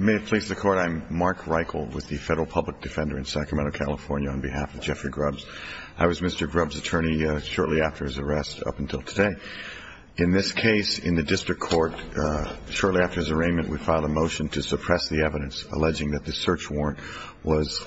May it please the Court, I'm Mark Reichel with the Federal Public Defender in Sacramento, California, on behalf of Jeffrey Grubbs. I was Mr. Grubbs' attorney shortly after his arrest up until today. In this case, in the district court, shortly after his arraignment, we filed a motion to suppress the evidence alleging that the search warrant was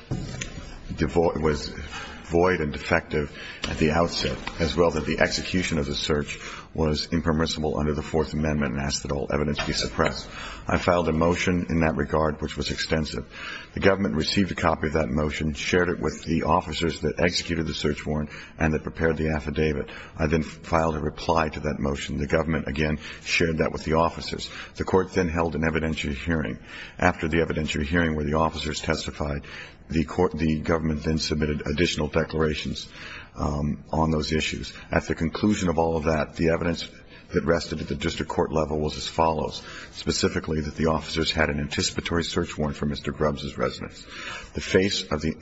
void and defective at the outset, as well that the execution of the search was impermissible under the Fourth Amendment and asked that all evidence be suppressed. I filed a motion in that regard, which was extensive. The government received a copy of that motion, shared it with the officers that executed the search warrant and that prepared the affidavit. I then filed a reply to that motion. The government, again, shared that with the officers. The court then held an evidentiary hearing. After the evidentiary hearing, where the officers testified, the government then submitted additional declarations on those issues. At the conclusion of all of that, the evidence that rested at the district court level was as follows. Specifically, that the officers had an anticipatory search warrant for Mr. Grubbs' residence. The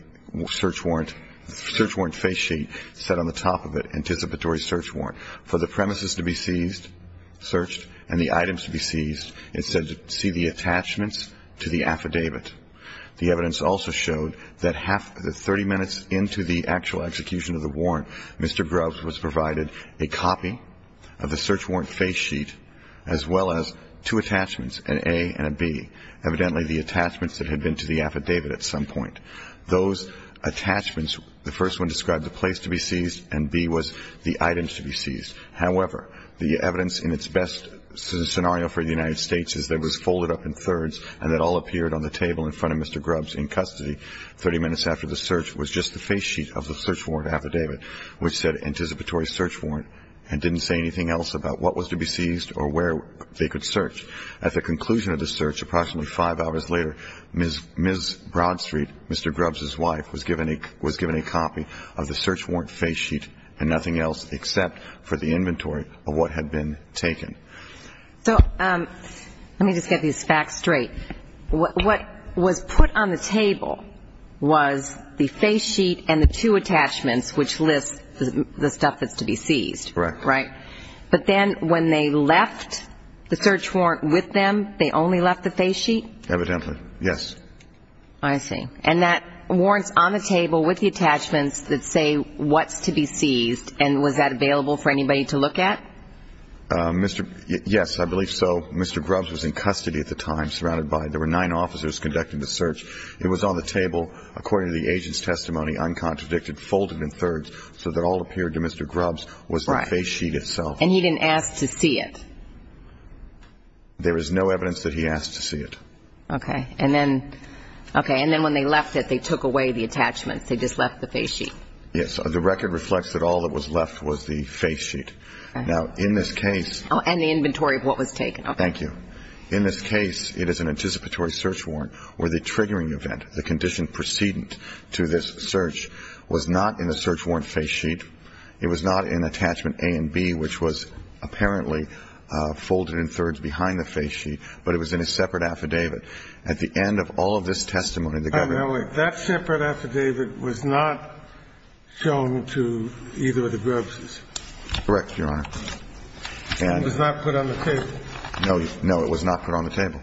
search warrant face sheet said on the top of it, anticipatory search warrant. For the premises to be seized, searched, and the items to be seized, it said to see the attachments to the affidavit. The evidence also showed that 30 minutes into the actual execution of the warrant, Mr. Grubbs was provided a copy of the search warrant face sheet as well as two attachments, an A and a B, evidently the attachments that had been to the affidavit at some point. Those attachments, the first one described the place to be seized and B was the items to be seized. However, the evidence in its best scenario for the United States is that it was folded up in thirds and that all appeared on the table in front of Mr. Grubbs in custody. Thirty minutes after the search was just the face sheet of the search warrant affidavit, which said anticipatory search warrant and didn't say anything else about what was to be seized or where they could search. At the conclusion of the search, approximately five hours later, Ms. Broadstreet, Mr. Grubbs' wife, was given a copy of the search warrant face sheet and nothing else except for the inventory of what had been taken. So let me just get these facts straight. What was put on the table was the face sheet and the two attachments, which lists the stuff that's to be seized. Correct. Right. But then when they left the search warrant with them, they only left the face sheet? Evidently. Yes. I see. And that warrant's on the table with the attachments that say what's to be seized, and was that available for anybody to look at? Yes, I believe so. Mr. Grubbs was in custody at the time, surrounded by ñ there were nine officers conducting the search. It was on the table, according to the agent's testimony, uncontradicted, folded in thirds, so that all that appeared to Mr. Grubbs was the face sheet itself. Right. And he didn't ask to see it? There is no evidence that he asked to see it. Okay. And then when they left it, they took away the attachments. They just left the face sheet. Yes. The record reflects that all that was left was the face sheet. Now, in this case ñ And the inventory of what was taken. Thank you. In this case, it is an anticipatory search warrant where the triggering event, the condition precedent to this search, was not in the search warrant face sheet. It was not in attachment A and B, which was apparently folded in thirds behind the face sheet, but it was in a separate affidavit. At the end of all of this testimony, the government ñ Now, wait. That separate affidavit was not shown to either of the Grubbses? Correct, Your Honor. It was not put on the table? No. No, it was not put on the table.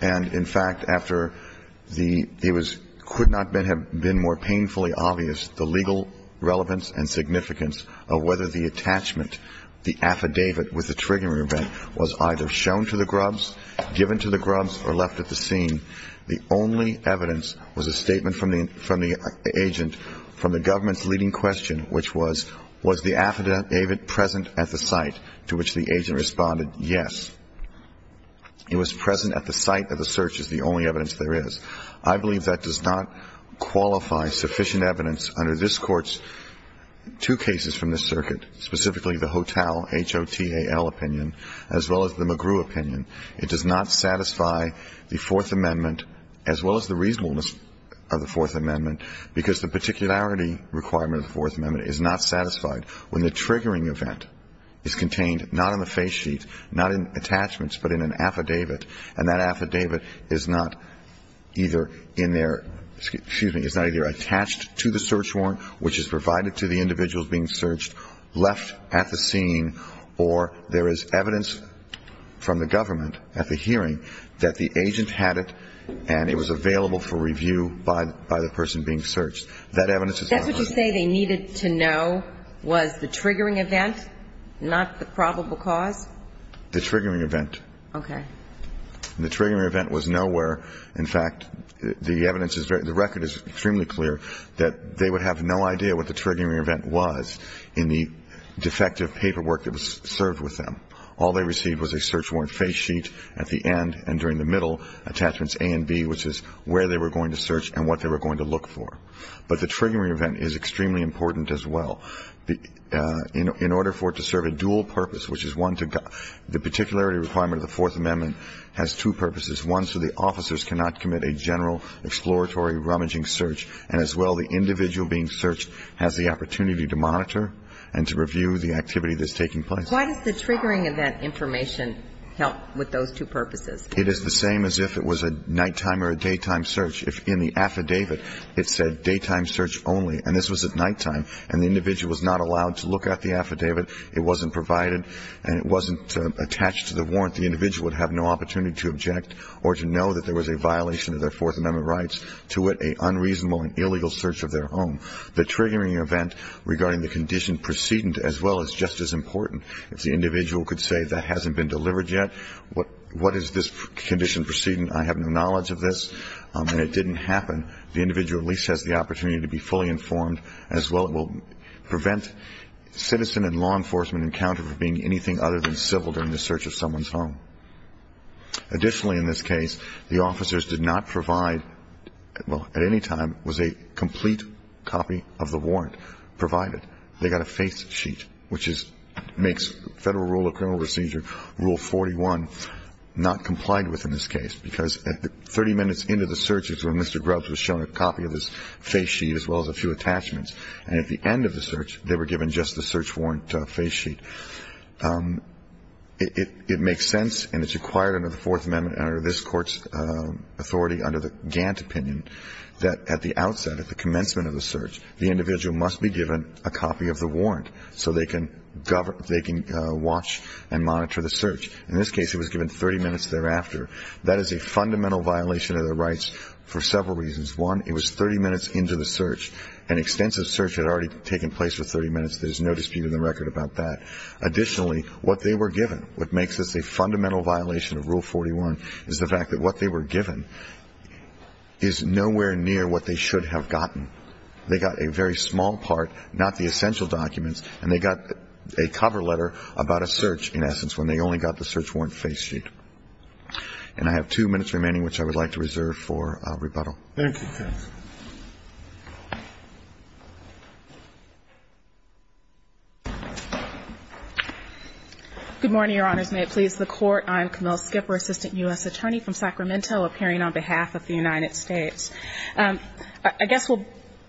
And, in fact, after the ñ it was ñ could not have been more painfully obvious the legal relevance and significance of whether the attachment, the affidavit with the triggering event, was either shown to the Grubbs, given to the Grubbs, or left at the scene. The only evidence was a statement from the agent from the government's leading question, which was, was the affidavit present at the site? To which the agent responded, yes. It was present at the site of the search is the only evidence there is. I believe that does not qualify sufficient evidence under this Court's two cases from this circuit, specifically the Hotel, H-O-T-A-L opinion, as well as the McGrew opinion. It does not satisfy the Fourth Amendment, as well as the reasonableness of the Fourth Amendment, because the particularity requirement of the Fourth Amendment is not satisfied when the triggering event is contained not on the face sheet, not in attachments, but in an affidavit. And that affidavit is not either in their ñ excuse me ñ is not either attached to the search warrant, which is provided to the individuals being searched, left at the scene, or there is evidence from the government at the hearing that the agent had it, and it was available for review by the person being searched. That evidence is not on it. That's what you say they needed to know was the triggering event, not the probable cause? The triggering event. Okay. The triggering event was nowhere. In fact, the evidence is very ñ the record is extremely clear that they would have no idea what the triggering event was in the defective paperwork that was served with them. All they received was a search warrant face sheet at the end and during the middle, attachments A and B, which is where they were going to search and what they were going to look for. But the triggering event is extremely important as well. In order for it to serve a dual purpose, which is one to ñ the particularity requirement of the Fourth Amendment has two purposes, one so the officers cannot commit a general exploratory rummaging search, and as well the individual being searched has the opportunity to monitor and to review the activity that's taking place. Why does the triggering event information help with those two purposes? It is the same as if it was a nighttime or a daytime search. If in the affidavit it said daytime search only, and this was at nighttime, and the individual was not allowed to look at the affidavit, it wasn't provided, and it wasn't attached to the warrant, the individual would have no opportunity to object or to know that there was a violation of their Fourth Amendment rights, to wit, an unreasonable and illegal search of their home. The triggering event regarding the condition precedent as well is just as important. If the individual could say that hasn't been delivered yet, what is this condition precedent, I have no knowledge of this, and it didn't happen, the individual at least has the opportunity to be fully informed, as well it will prevent citizen and law enforcement encounter for being anything other than civil during the search of someone's home. Additionally, in this case, the officers did not provide ñ well, at any time, was a complete copy of the warrant provided. They got a face sheet, which is ñ makes Federal Rule of Criminal Procedure, Rule 41, not complied with in this case, because 30 minutes into the search is when Mr. Grubbs was shown a copy of his face sheet as well as a few attachments, and at the end of the search they were given just the search warrant face sheet. It makes sense, and it's required under the Fourth Amendment and under this Court's authority, under the Gantt opinion, that at the outset, at the commencement of the search, the individual must be given a copy of the warrant so they can watch and monitor the search. In this case, he was given 30 minutes thereafter. That is a fundamental violation of the rights for several reasons. One, it was 30 minutes into the search. An extensive search had already taken place for 30 minutes. There's no dispute in the record about that. Additionally, what they were given, what makes this a fundamental violation of Rule 41, is the fact that what they were given is nowhere near what they should have gotten. They got a very small part, not the essential documents, and they got a cover letter about a search, in essence, when they only got the search warrant face sheet. And I have two minutes remaining, which I would like to reserve for rebuttal. Thank you, counsel. Good morning, Your Honors. May it please the Court. I'm Camille Skipper, Assistant U.S. Attorney from Sacramento, appearing on behalf of the United States. I guess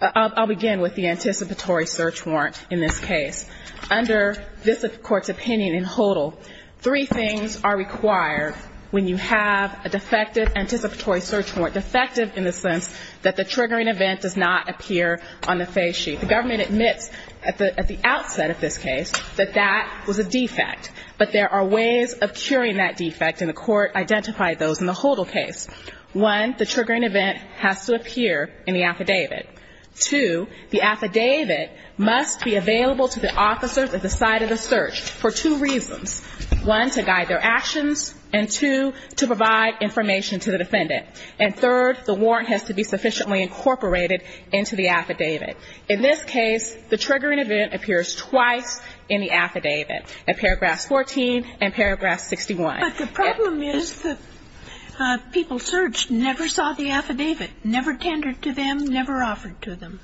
I'll begin with the anticipatory search warrant in this case. Under this Court's opinion in HODL, three things are required when you have a defective anticipatory search warrant, defective in the sense that the triggering event does not appear on the face sheet. The government admits at the outset of this case that that was a defect, but there are ways of curing that defect. And the Court identified those in the HODL case. One, the triggering event has to appear in the affidavit. Two, the affidavit must be available to the officers at the site of the search for two reasons. One, to guide their actions, and two, to provide information to the defendant. And third, the warrant has to be sufficiently incorporated into the affidavit. In this case, the triggering event appears twice in the affidavit, in paragraphs 14 and paragraph 61. But the problem is that people searched never saw the affidavit, never tendered to them, never offered to them.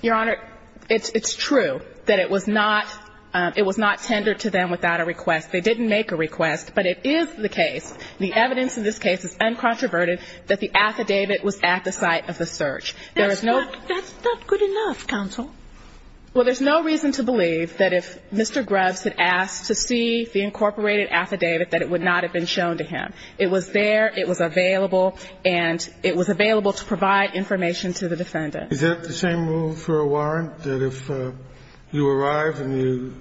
Your Honor, it's true that it was not tendered to them without a request. They didn't make a request, but it is the case, the evidence in this case is uncontroverted, that the affidavit was at the site of the search. There is no ---- That's not good enough, counsel. Well, there's no reason to believe that if Mr. Grubbs had asked to see the incorporated affidavit, that it would not have been shown to him. It was there, it was available, and it was available to provide information to the defendant. Is that the same rule for a warrant, that if you arrive and you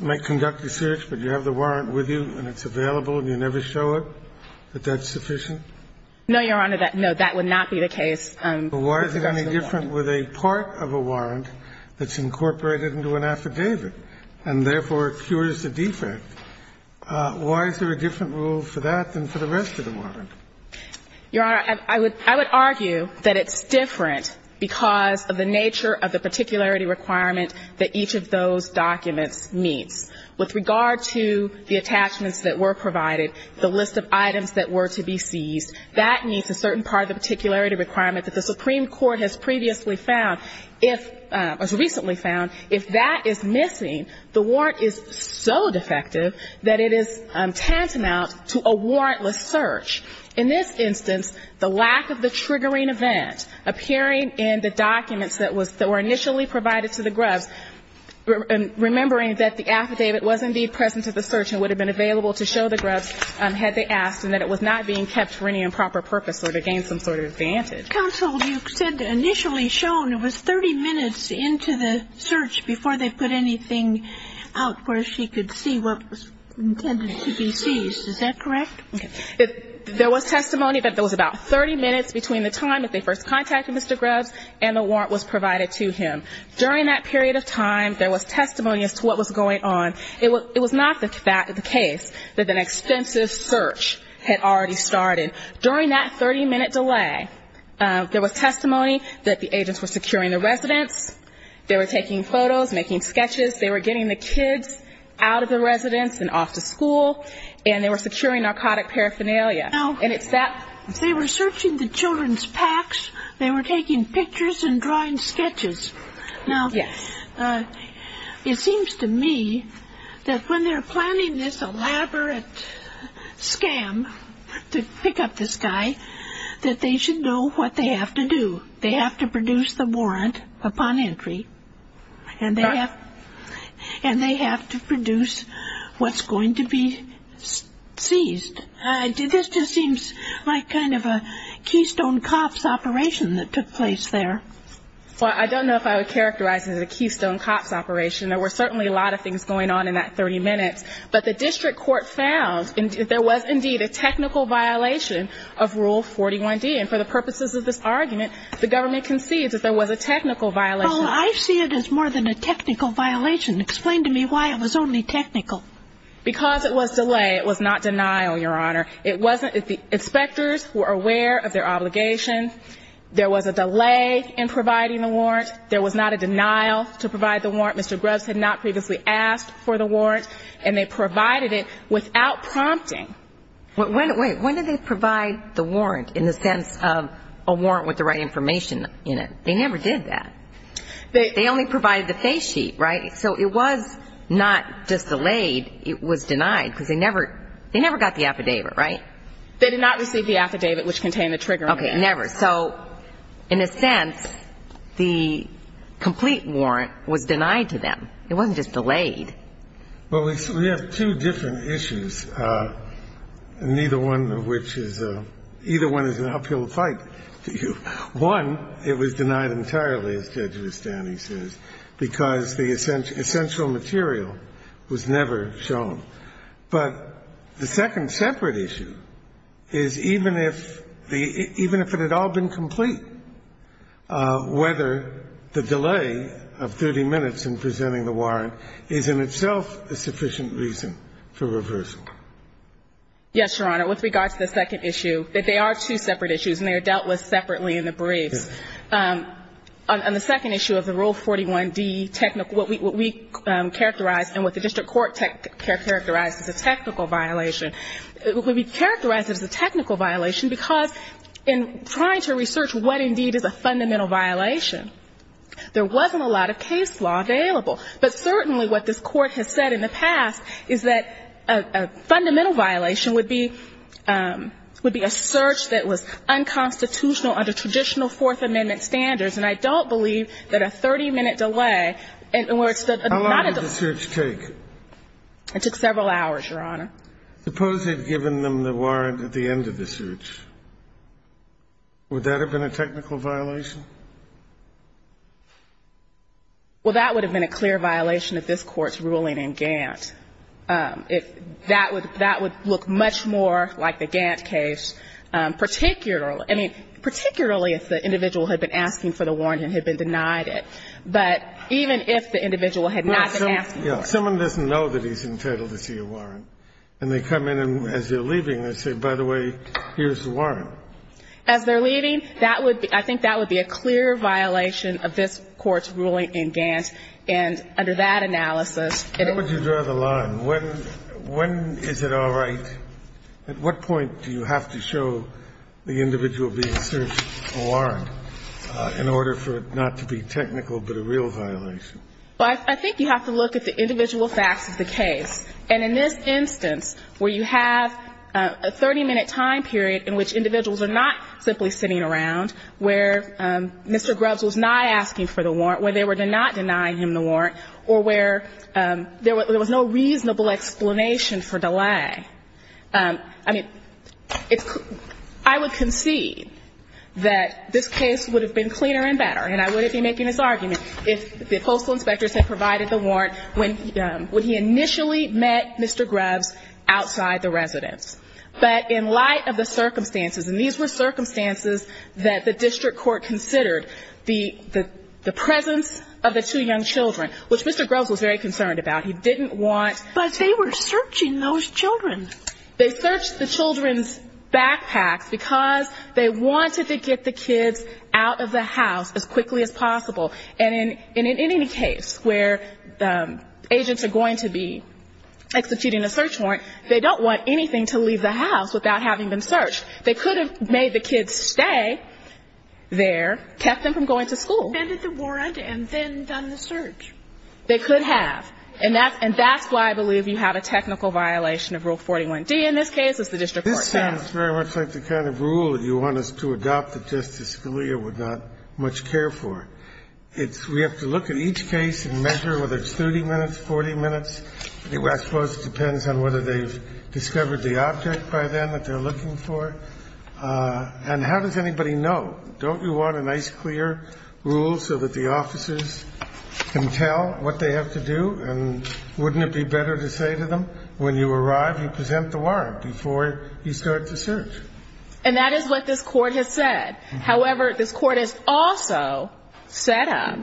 may conduct a search, but you have the warrant with you and it's available and you never show it, that that's sufficient? No, Your Honor. No, that would not be the case. But why is it any different with a part of a warrant that's incorporated into an affidavit and therefore cures the defect? Why is there a different rule for that than for the rest of the warrant? Your Honor, I would argue that it's different because of the nature of the particularity requirement that each of those documents meets. With regard to the attachments that were provided, the list of items that were to be seized, that meets a certain part of the particularity requirement that the Supreme Court has previously found, or has recently found. If that is missing, the warrant is so defective that it is tantamount to a warrantless search. In this instance, the lack of the triggering event appearing in the documents that were initially provided to the Grubbs, remembering that the affidavit was indeed present to the search and would have been available to show the Grubbs had they asked and that it was not being kept for any improper purpose or to gain some sort of advantage. Counsel, you said initially shown it was 30 minutes into the search before they put anything out where she could see what was intended to be seized. Is that correct? There was testimony that there was about 30 minutes between the time that they first contacted Mr. Grubbs and the warrant was provided to him. During that period of time, there was testimony as to what was going on. It was not the case that an extensive search had already started. During that 30-minute delay, there was testimony that the agents were securing the residents, they were taking photos, making sketches, they were getting the kids out of the residence and off to school, and they were securing narcotic paraphernalia. And it's that they were searching the children's packs, they were taking pictures and drawing sketches. Now, it seems to me that when they're planning this elaborate scam to pick up this guy, that they should know what they have to do. They have to produce the warrant upon entry and they have to produce what's going to be seized. This just seems like kind of a keystone cuffs operation that took place there. Well, I don't know if I would characterize it as a keystone cuffs operation. There were certainly a lot of things going on in that 30 minutes. But the district court found that there was indeed a technical violation of Rule 41D. And for the purposes of this argument, the government concedes that there was a technical violation. Well, I see it as more than a technical violation. Explain to me why it was only technical. Because it was delay. It was not denial, Your Honor. It wasn't. The inspectors were aware of their obligation. There was a delay in providing the warrant. There was not a denial to provide the warrant. Mr. Grubbs had not previously asked for the warrant. And they provided it without prompting. Wait. When did they provide the warrant in the sense of a warrant with the right information in it? They never did that. They only provided the face sheet, right? So it was not just delayed. It was denied because they never got the affidavit, right? They did not receive the affidavit which contained the trigger. Okay. Never. So in a sense, the complete warrant was denied to them. It wasn't just delayed. Well, we have two different issues, neither one of which is an uphill fight. One, it was denied entirely, as Judge Vestani says, because the essential material was never shown. But the second separate issue is even if it had all been complete, whether the delay of 30 minutes in presenting the warrant is in itself a sufficient reason for reversal. Yes, Your Honor. With regard to the second issue, they are two separate issues and they are dealt with separately in the briefs. On the second issue of the Rule 41D, what we characterized and what the district court characterized as a technical violation, it would be characterized as a technical violation because in trying to research what indeed is a fundamental violation, there wasn't a lot of case law available. But certainly what this Court has said in the past is that a fundamental violation would be a search that was unconstitutional under traditional Fourth Amendment standards, and I don't believe that a 30-minute delay and where it's not a delay How long did the search take? It took several hours, Your Honor. Suppose they had given them the warrant at the end of the search. Would that have been a technical violation? Well, that would have been a clear violation of this Court's ruling in Gantt. That would look much more like the Gantt case, particularly if the individual had been asking for the warrant and had been denied it. But even if the individual had not been asking for it. Well, someone doesn't know that he's entitled to see a warrant, and they come in and as they're leaving, they say, by the way, here's the warrant. As they're leaving, that would be – I think that would be a clear violation of this Court's ruling in Gantt, and under that analysis, it is. Why don't you draw the line? When is it all right? At what point do you have to show the individual being searched a warrant? In order for it not to be technical, but a real violation. Well, I think you have to look at the individual facts of the case. And in this instance, where you have a 30-minute time period in which individuals are not simply sitting around, where Mr. Grubbs was not asking for the warrant, where they were not denying him the warrant, or where there was no reasonable explanation for delay. I mean, I would concede that this case would have been cleaner and better, and I wouldn't be making this argument if the postal inspectors had provided the warrant when he initially met Mr. Grubbs outside the residence. But in light of the circumstances, and these were circumstances that the district court considered, the presence of the two young children, which Mr. Grubbs was very concerned about. He didn't want – They searched the children's backpacks because they wanted to get the kids out of the house as quickly as possible. And in any case where agents are going to be executing a search warrant, they don't want anything to leave the house without having them searched. They could have made the kids stay there, kept them from going to school. Defended the warrant and then done the search. They could have. And that's why I believe you have a technical violation of Rule 41d in this case, as the district court found. This sounds very much like the kind of rule you want us to adopt that Justice Scalia would not much care for. We have to look at each case and measure whether it's 30 minutes, 40 minutes. I suppose it depends on whether they've discovered the object by then that they're looking for. And how does anybody know? Don't you want a nice clear rule so that the officers can tell what they have to do and wouldn't it be better to say to them, when you arrive you present the warrant before you start the search? And that is what this court has said. However, this court has also set up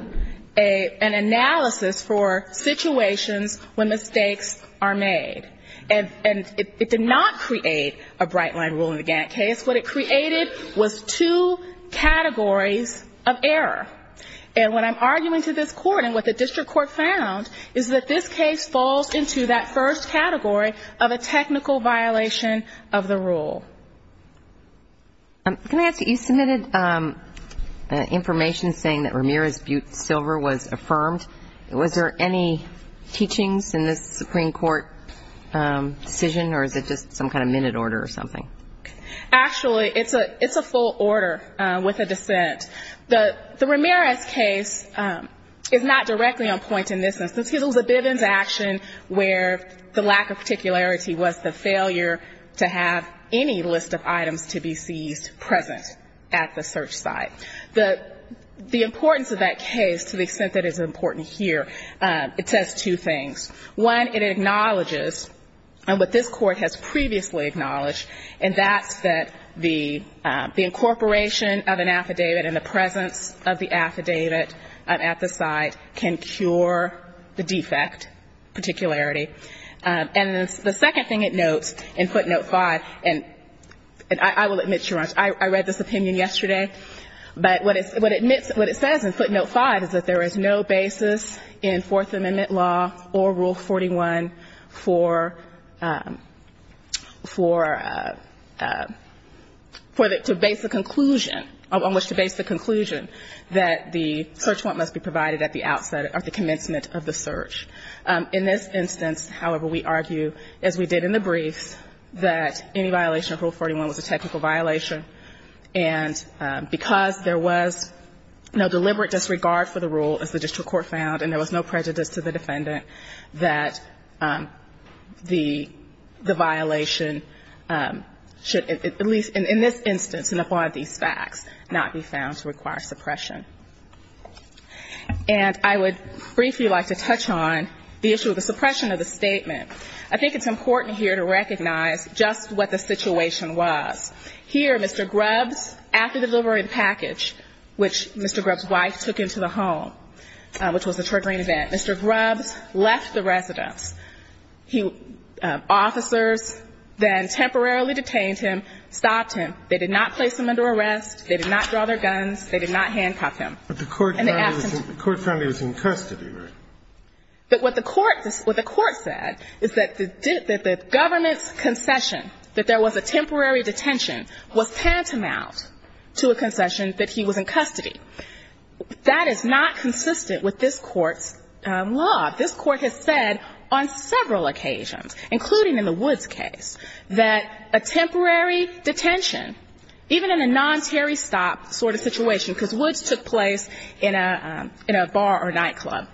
an analysis for situations when mistakes are made. And it did not create a bright line rule in the Gantt case. What it created was two categories of error. And what I'm arguing to this court and what the district court found is that this case falls into that first category of a technical violation of the rule. Can I ask you, you submitted information saying that Ramirez Butte Silver was affirmed. Was there any teachings in this Supreme Court decision, or is it just some kind of minute order or something? Actually, it's a full order with a dissent. The Ramirez case is not directly on point in this instance. It was a Bivens action where the lack of particularity was the failure to have any list of items to be seized present at the search site. The importance of that case, to the extent that it's important here, it says two things. One, it acknowledges what this court has previously acknowledged, and that's that the incorporation of an affidavit and the presence of the affidavit at the site can cure the defect, particularity. And the second thing it notes in footnote 5, and I will admit, Sharon, I read this opinion yesterday. But what it says in footnote 5 is that there is no basis in Fourth Amendment law or Rule 41 for the basic conclusion, on which to base the conclusion that the search warrant must be provided at the outset of the commencement of the search. In this instance, however, we argue, as we did in the briefs, that any violation of Rule 41 was a technical violation. And because there was no deliberate disregard for the rule, as the district defendant, that the violation should, at least in this instance and upon these facts, not be found to require suppression. And I would briefly like to touch on the issue of the suppression of the statement. I think it's important here to recognize just what the situation was. Here, Mr. Grubbs, after the delivery of the package, which Mr. Grubbs' wife took him to the home, which was a triggering event, Mr. Grubbs left the residence. He – officers then temporarily detained him, stopped him. They did not place him under arrest. They did not draw their guns. They did not handcuff him. And they asked him to go. The court found he was in custody, right? But what the court – what the court said is that the government's concession, that there was a temporary detention, was tantamount to a concession that he was in custody. That is not consistent with this Court's law. This Court has said on several occasions, including in the Woods case, that a temporary detention, even in a non-tarry stop sort of situation, because Woods took place in a bar or nightclub,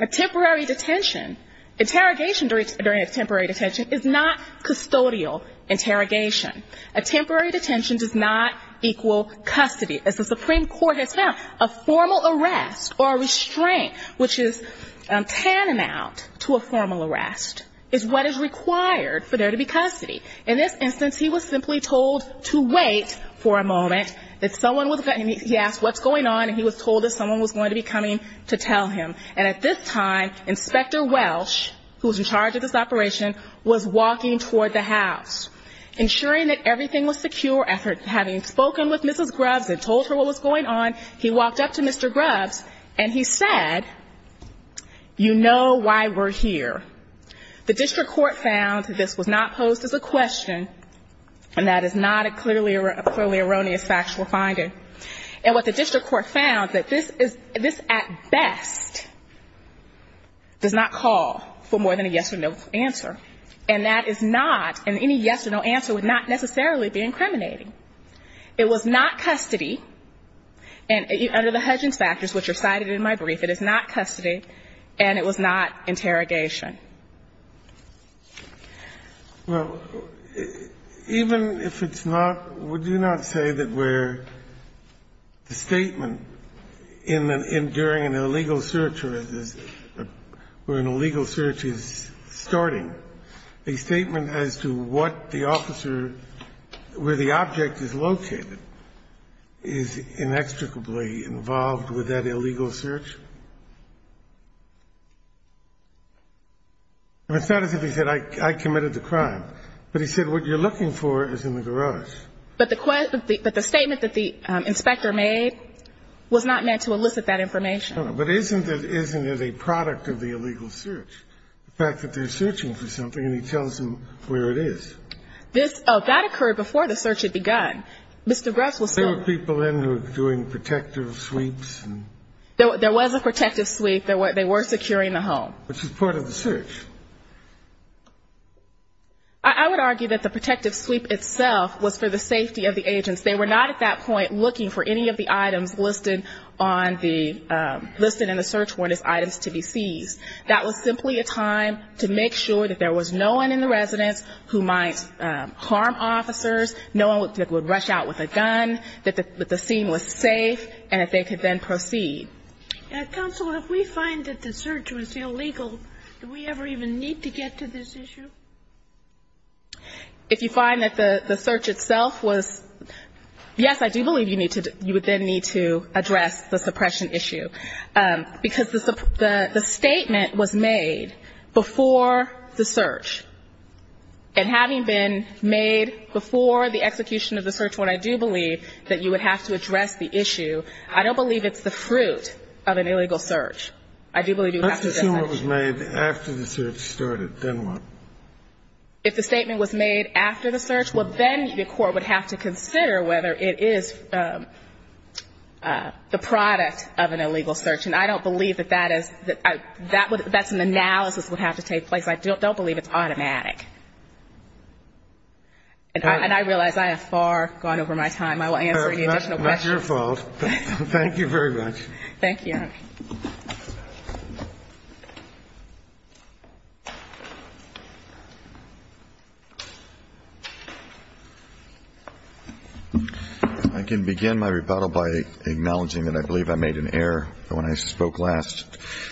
a temporary detention, interrogation during a temporary detention is not custodial interrogation. A temporary detention does not equal custody. As the Supreme Court has found, a formal arrest or a restraint, which is tantamount to a formal arrest, is what is required for there to be custody. In this instance, he was simply told to wait for a moment, that someone was – he asked what's going on, and he was told that someone was going to be coming to tell him. And at this time, Inspector Welsh, who was in charge of this operation, was walking toward the house, ensuring that everything was secure. After having spoken with Mrs. Grubbs and told her what was going on, he walked up to Mr. Grubbs, and he said, you know why we're here. The district court found this was not posed as a question, and that is not a clearly erroneous factual finding. And what the district court found, that this is – this at best does not call for more than a yes or no answer, and that is not – and any yes or no answer would not necessarily be incriminating. It was not custody, and under the Hudgins factors, which are cited in my brief, it is not custody, and it was not interrogation. Well, even if it's not, would you not say that where the statement in the – in during an illegal search or where an illegal search is starting, a statement as to what the officer – where the object is located is inextricably involved with that illegal search? It's not as if he said, I committed the crime, but he said what you're looking for is in the garage. But the statement that the inspector made was not meant to elicit that information. No, no. But isn't it a product of the illegal search, the fact that they're searching for something and he tells them where it is? This – that occurred before the search had begun. Mr. Grubbs was still – There were people in who were doing protective sweeps and – There was a protective sweep. They were securing the home. Which is part of the search. I would argue that the protective sweep itself was for the safety of the agents. They were not at that point looking for any of the items listed on the – listed in the search warrant as items to be seized. That was simply a time to make sure that there was no one in the residence who might harm officers, no one that would rush out with a gun, that the scene was safe and that they could then proceed. Counsel, if we find that the search was illegal, do we ever even need to get to this issue? If you find that the search itself was – yes, I do believe you need to – you would then need to address the suppression issue. Because the statement was made before the search. And having been made before the execution of the search warrant, I do believe that you would have to address the issue. I don't believe it's the fruit of an illegal search. I do believe you would have to address it. Let's assume it was made after the search started. Then what? If the statement was made after the search, well, then the court would have to consider whether it is the product of an illegal search. And I don't believe that that is – that's an analysis that would have to take place. I don't believe it's automatic. And I realize I have far gone over my time. I will answer any additional questions. That's not your fault. Thank you very much. Thank you. I can begin my rebuttal by acknowledging that I believe I made an error when I spoke last.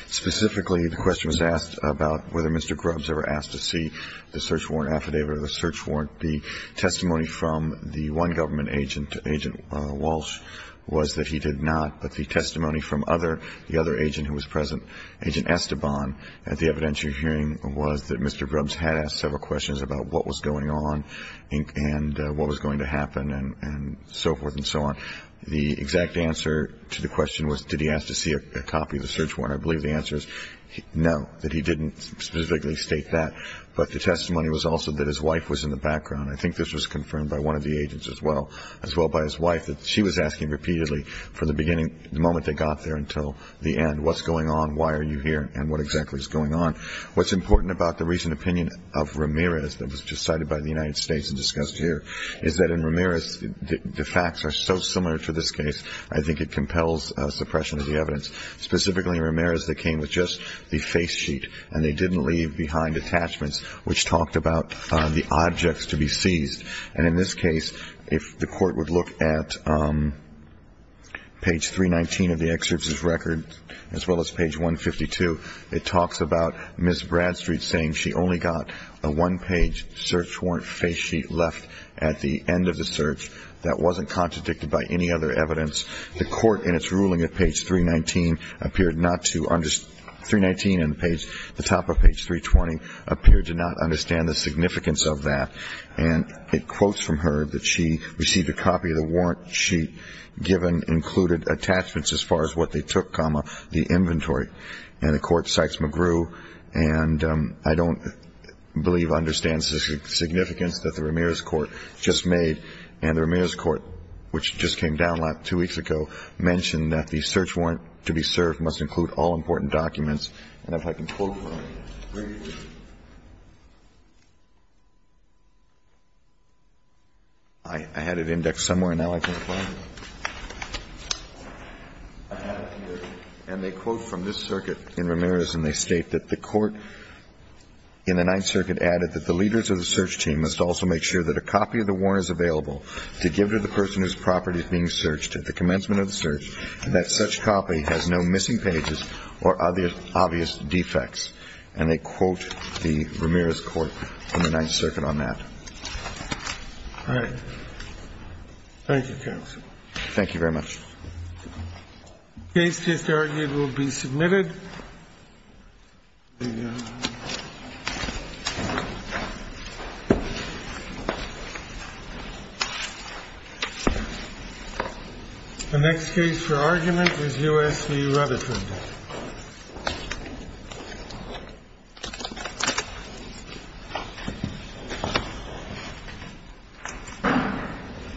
Specifically, the question was asked about whether Mr. Grubbs ever asked to see the search warrant affidavit or the search warrant. The testimony from the one government agent, Agent Walsh, was that he did not. But the testimony from the other agent who was present, Agent Esteban, at the evidentiary hearing was that Mr. Grubbs had asked several questions about what was going on and what was going to happen and so forth and so on. The exact answer to the question was, did he ask to see a copy of the search warrant? I believe the answer is no, that he didn't specifically state that. But the testimony was also that his wife was in the background. I think this was confirmed by one of the agents as well, as well by his wife, that she was asking repeatedly from the beginning, the moment they got there until the end, what's going on, why are you here, and what exactly is going on. What's important about the recent opinion of Ramirez that was just cited by the United States Supreme Court, is that the facts are so similar to this case, I think it compels suppression of the evidence. Specifically, Ramirez, they came with just the face sheet, and they didn't leave behind attachments which talked about the objects to be seized. And in this case, if the Court would look at page 319 of the excerpt's record, as well as page 152, it talks about Ms. Bradstreet saying she only got a one-page search warrant face sheet left at the end of the search. That wasn't contradicted by any other evidence. The Court, in its ruling at page 319, appeared not to understand, 319 at the top of page 320, appeared to not understand the significance of that. And it quotes from her that she received a copy of the warrant sheet, given included attachments as far as what they took, comma, the inventory. And the Court cites McGrew, and I don't believe understands the significance that the Ramirez Court just made. And the Ramirez Court, which just came down two weeks ago, mentioned that the search warrant to be served must include all important documents. And if I can quote from it. I had it indexed somewhere. Now I can apply it. And they quote from this circuit in Ramirez, and they state that the Court in the Ninth Circuit added that the leaders of the search team must also make sure that a copy of the warrant is available to give to the person whose property is being searched at the commencement of the search, and that such copy has no missing pages or other obvious defects. And they quote the Ramirez Court from the Ninth Circuit on that. All right. Thank you, counsel. Thank you very much. The case just argued will be submitted. The next case for argument is U.S. v. Rutherford.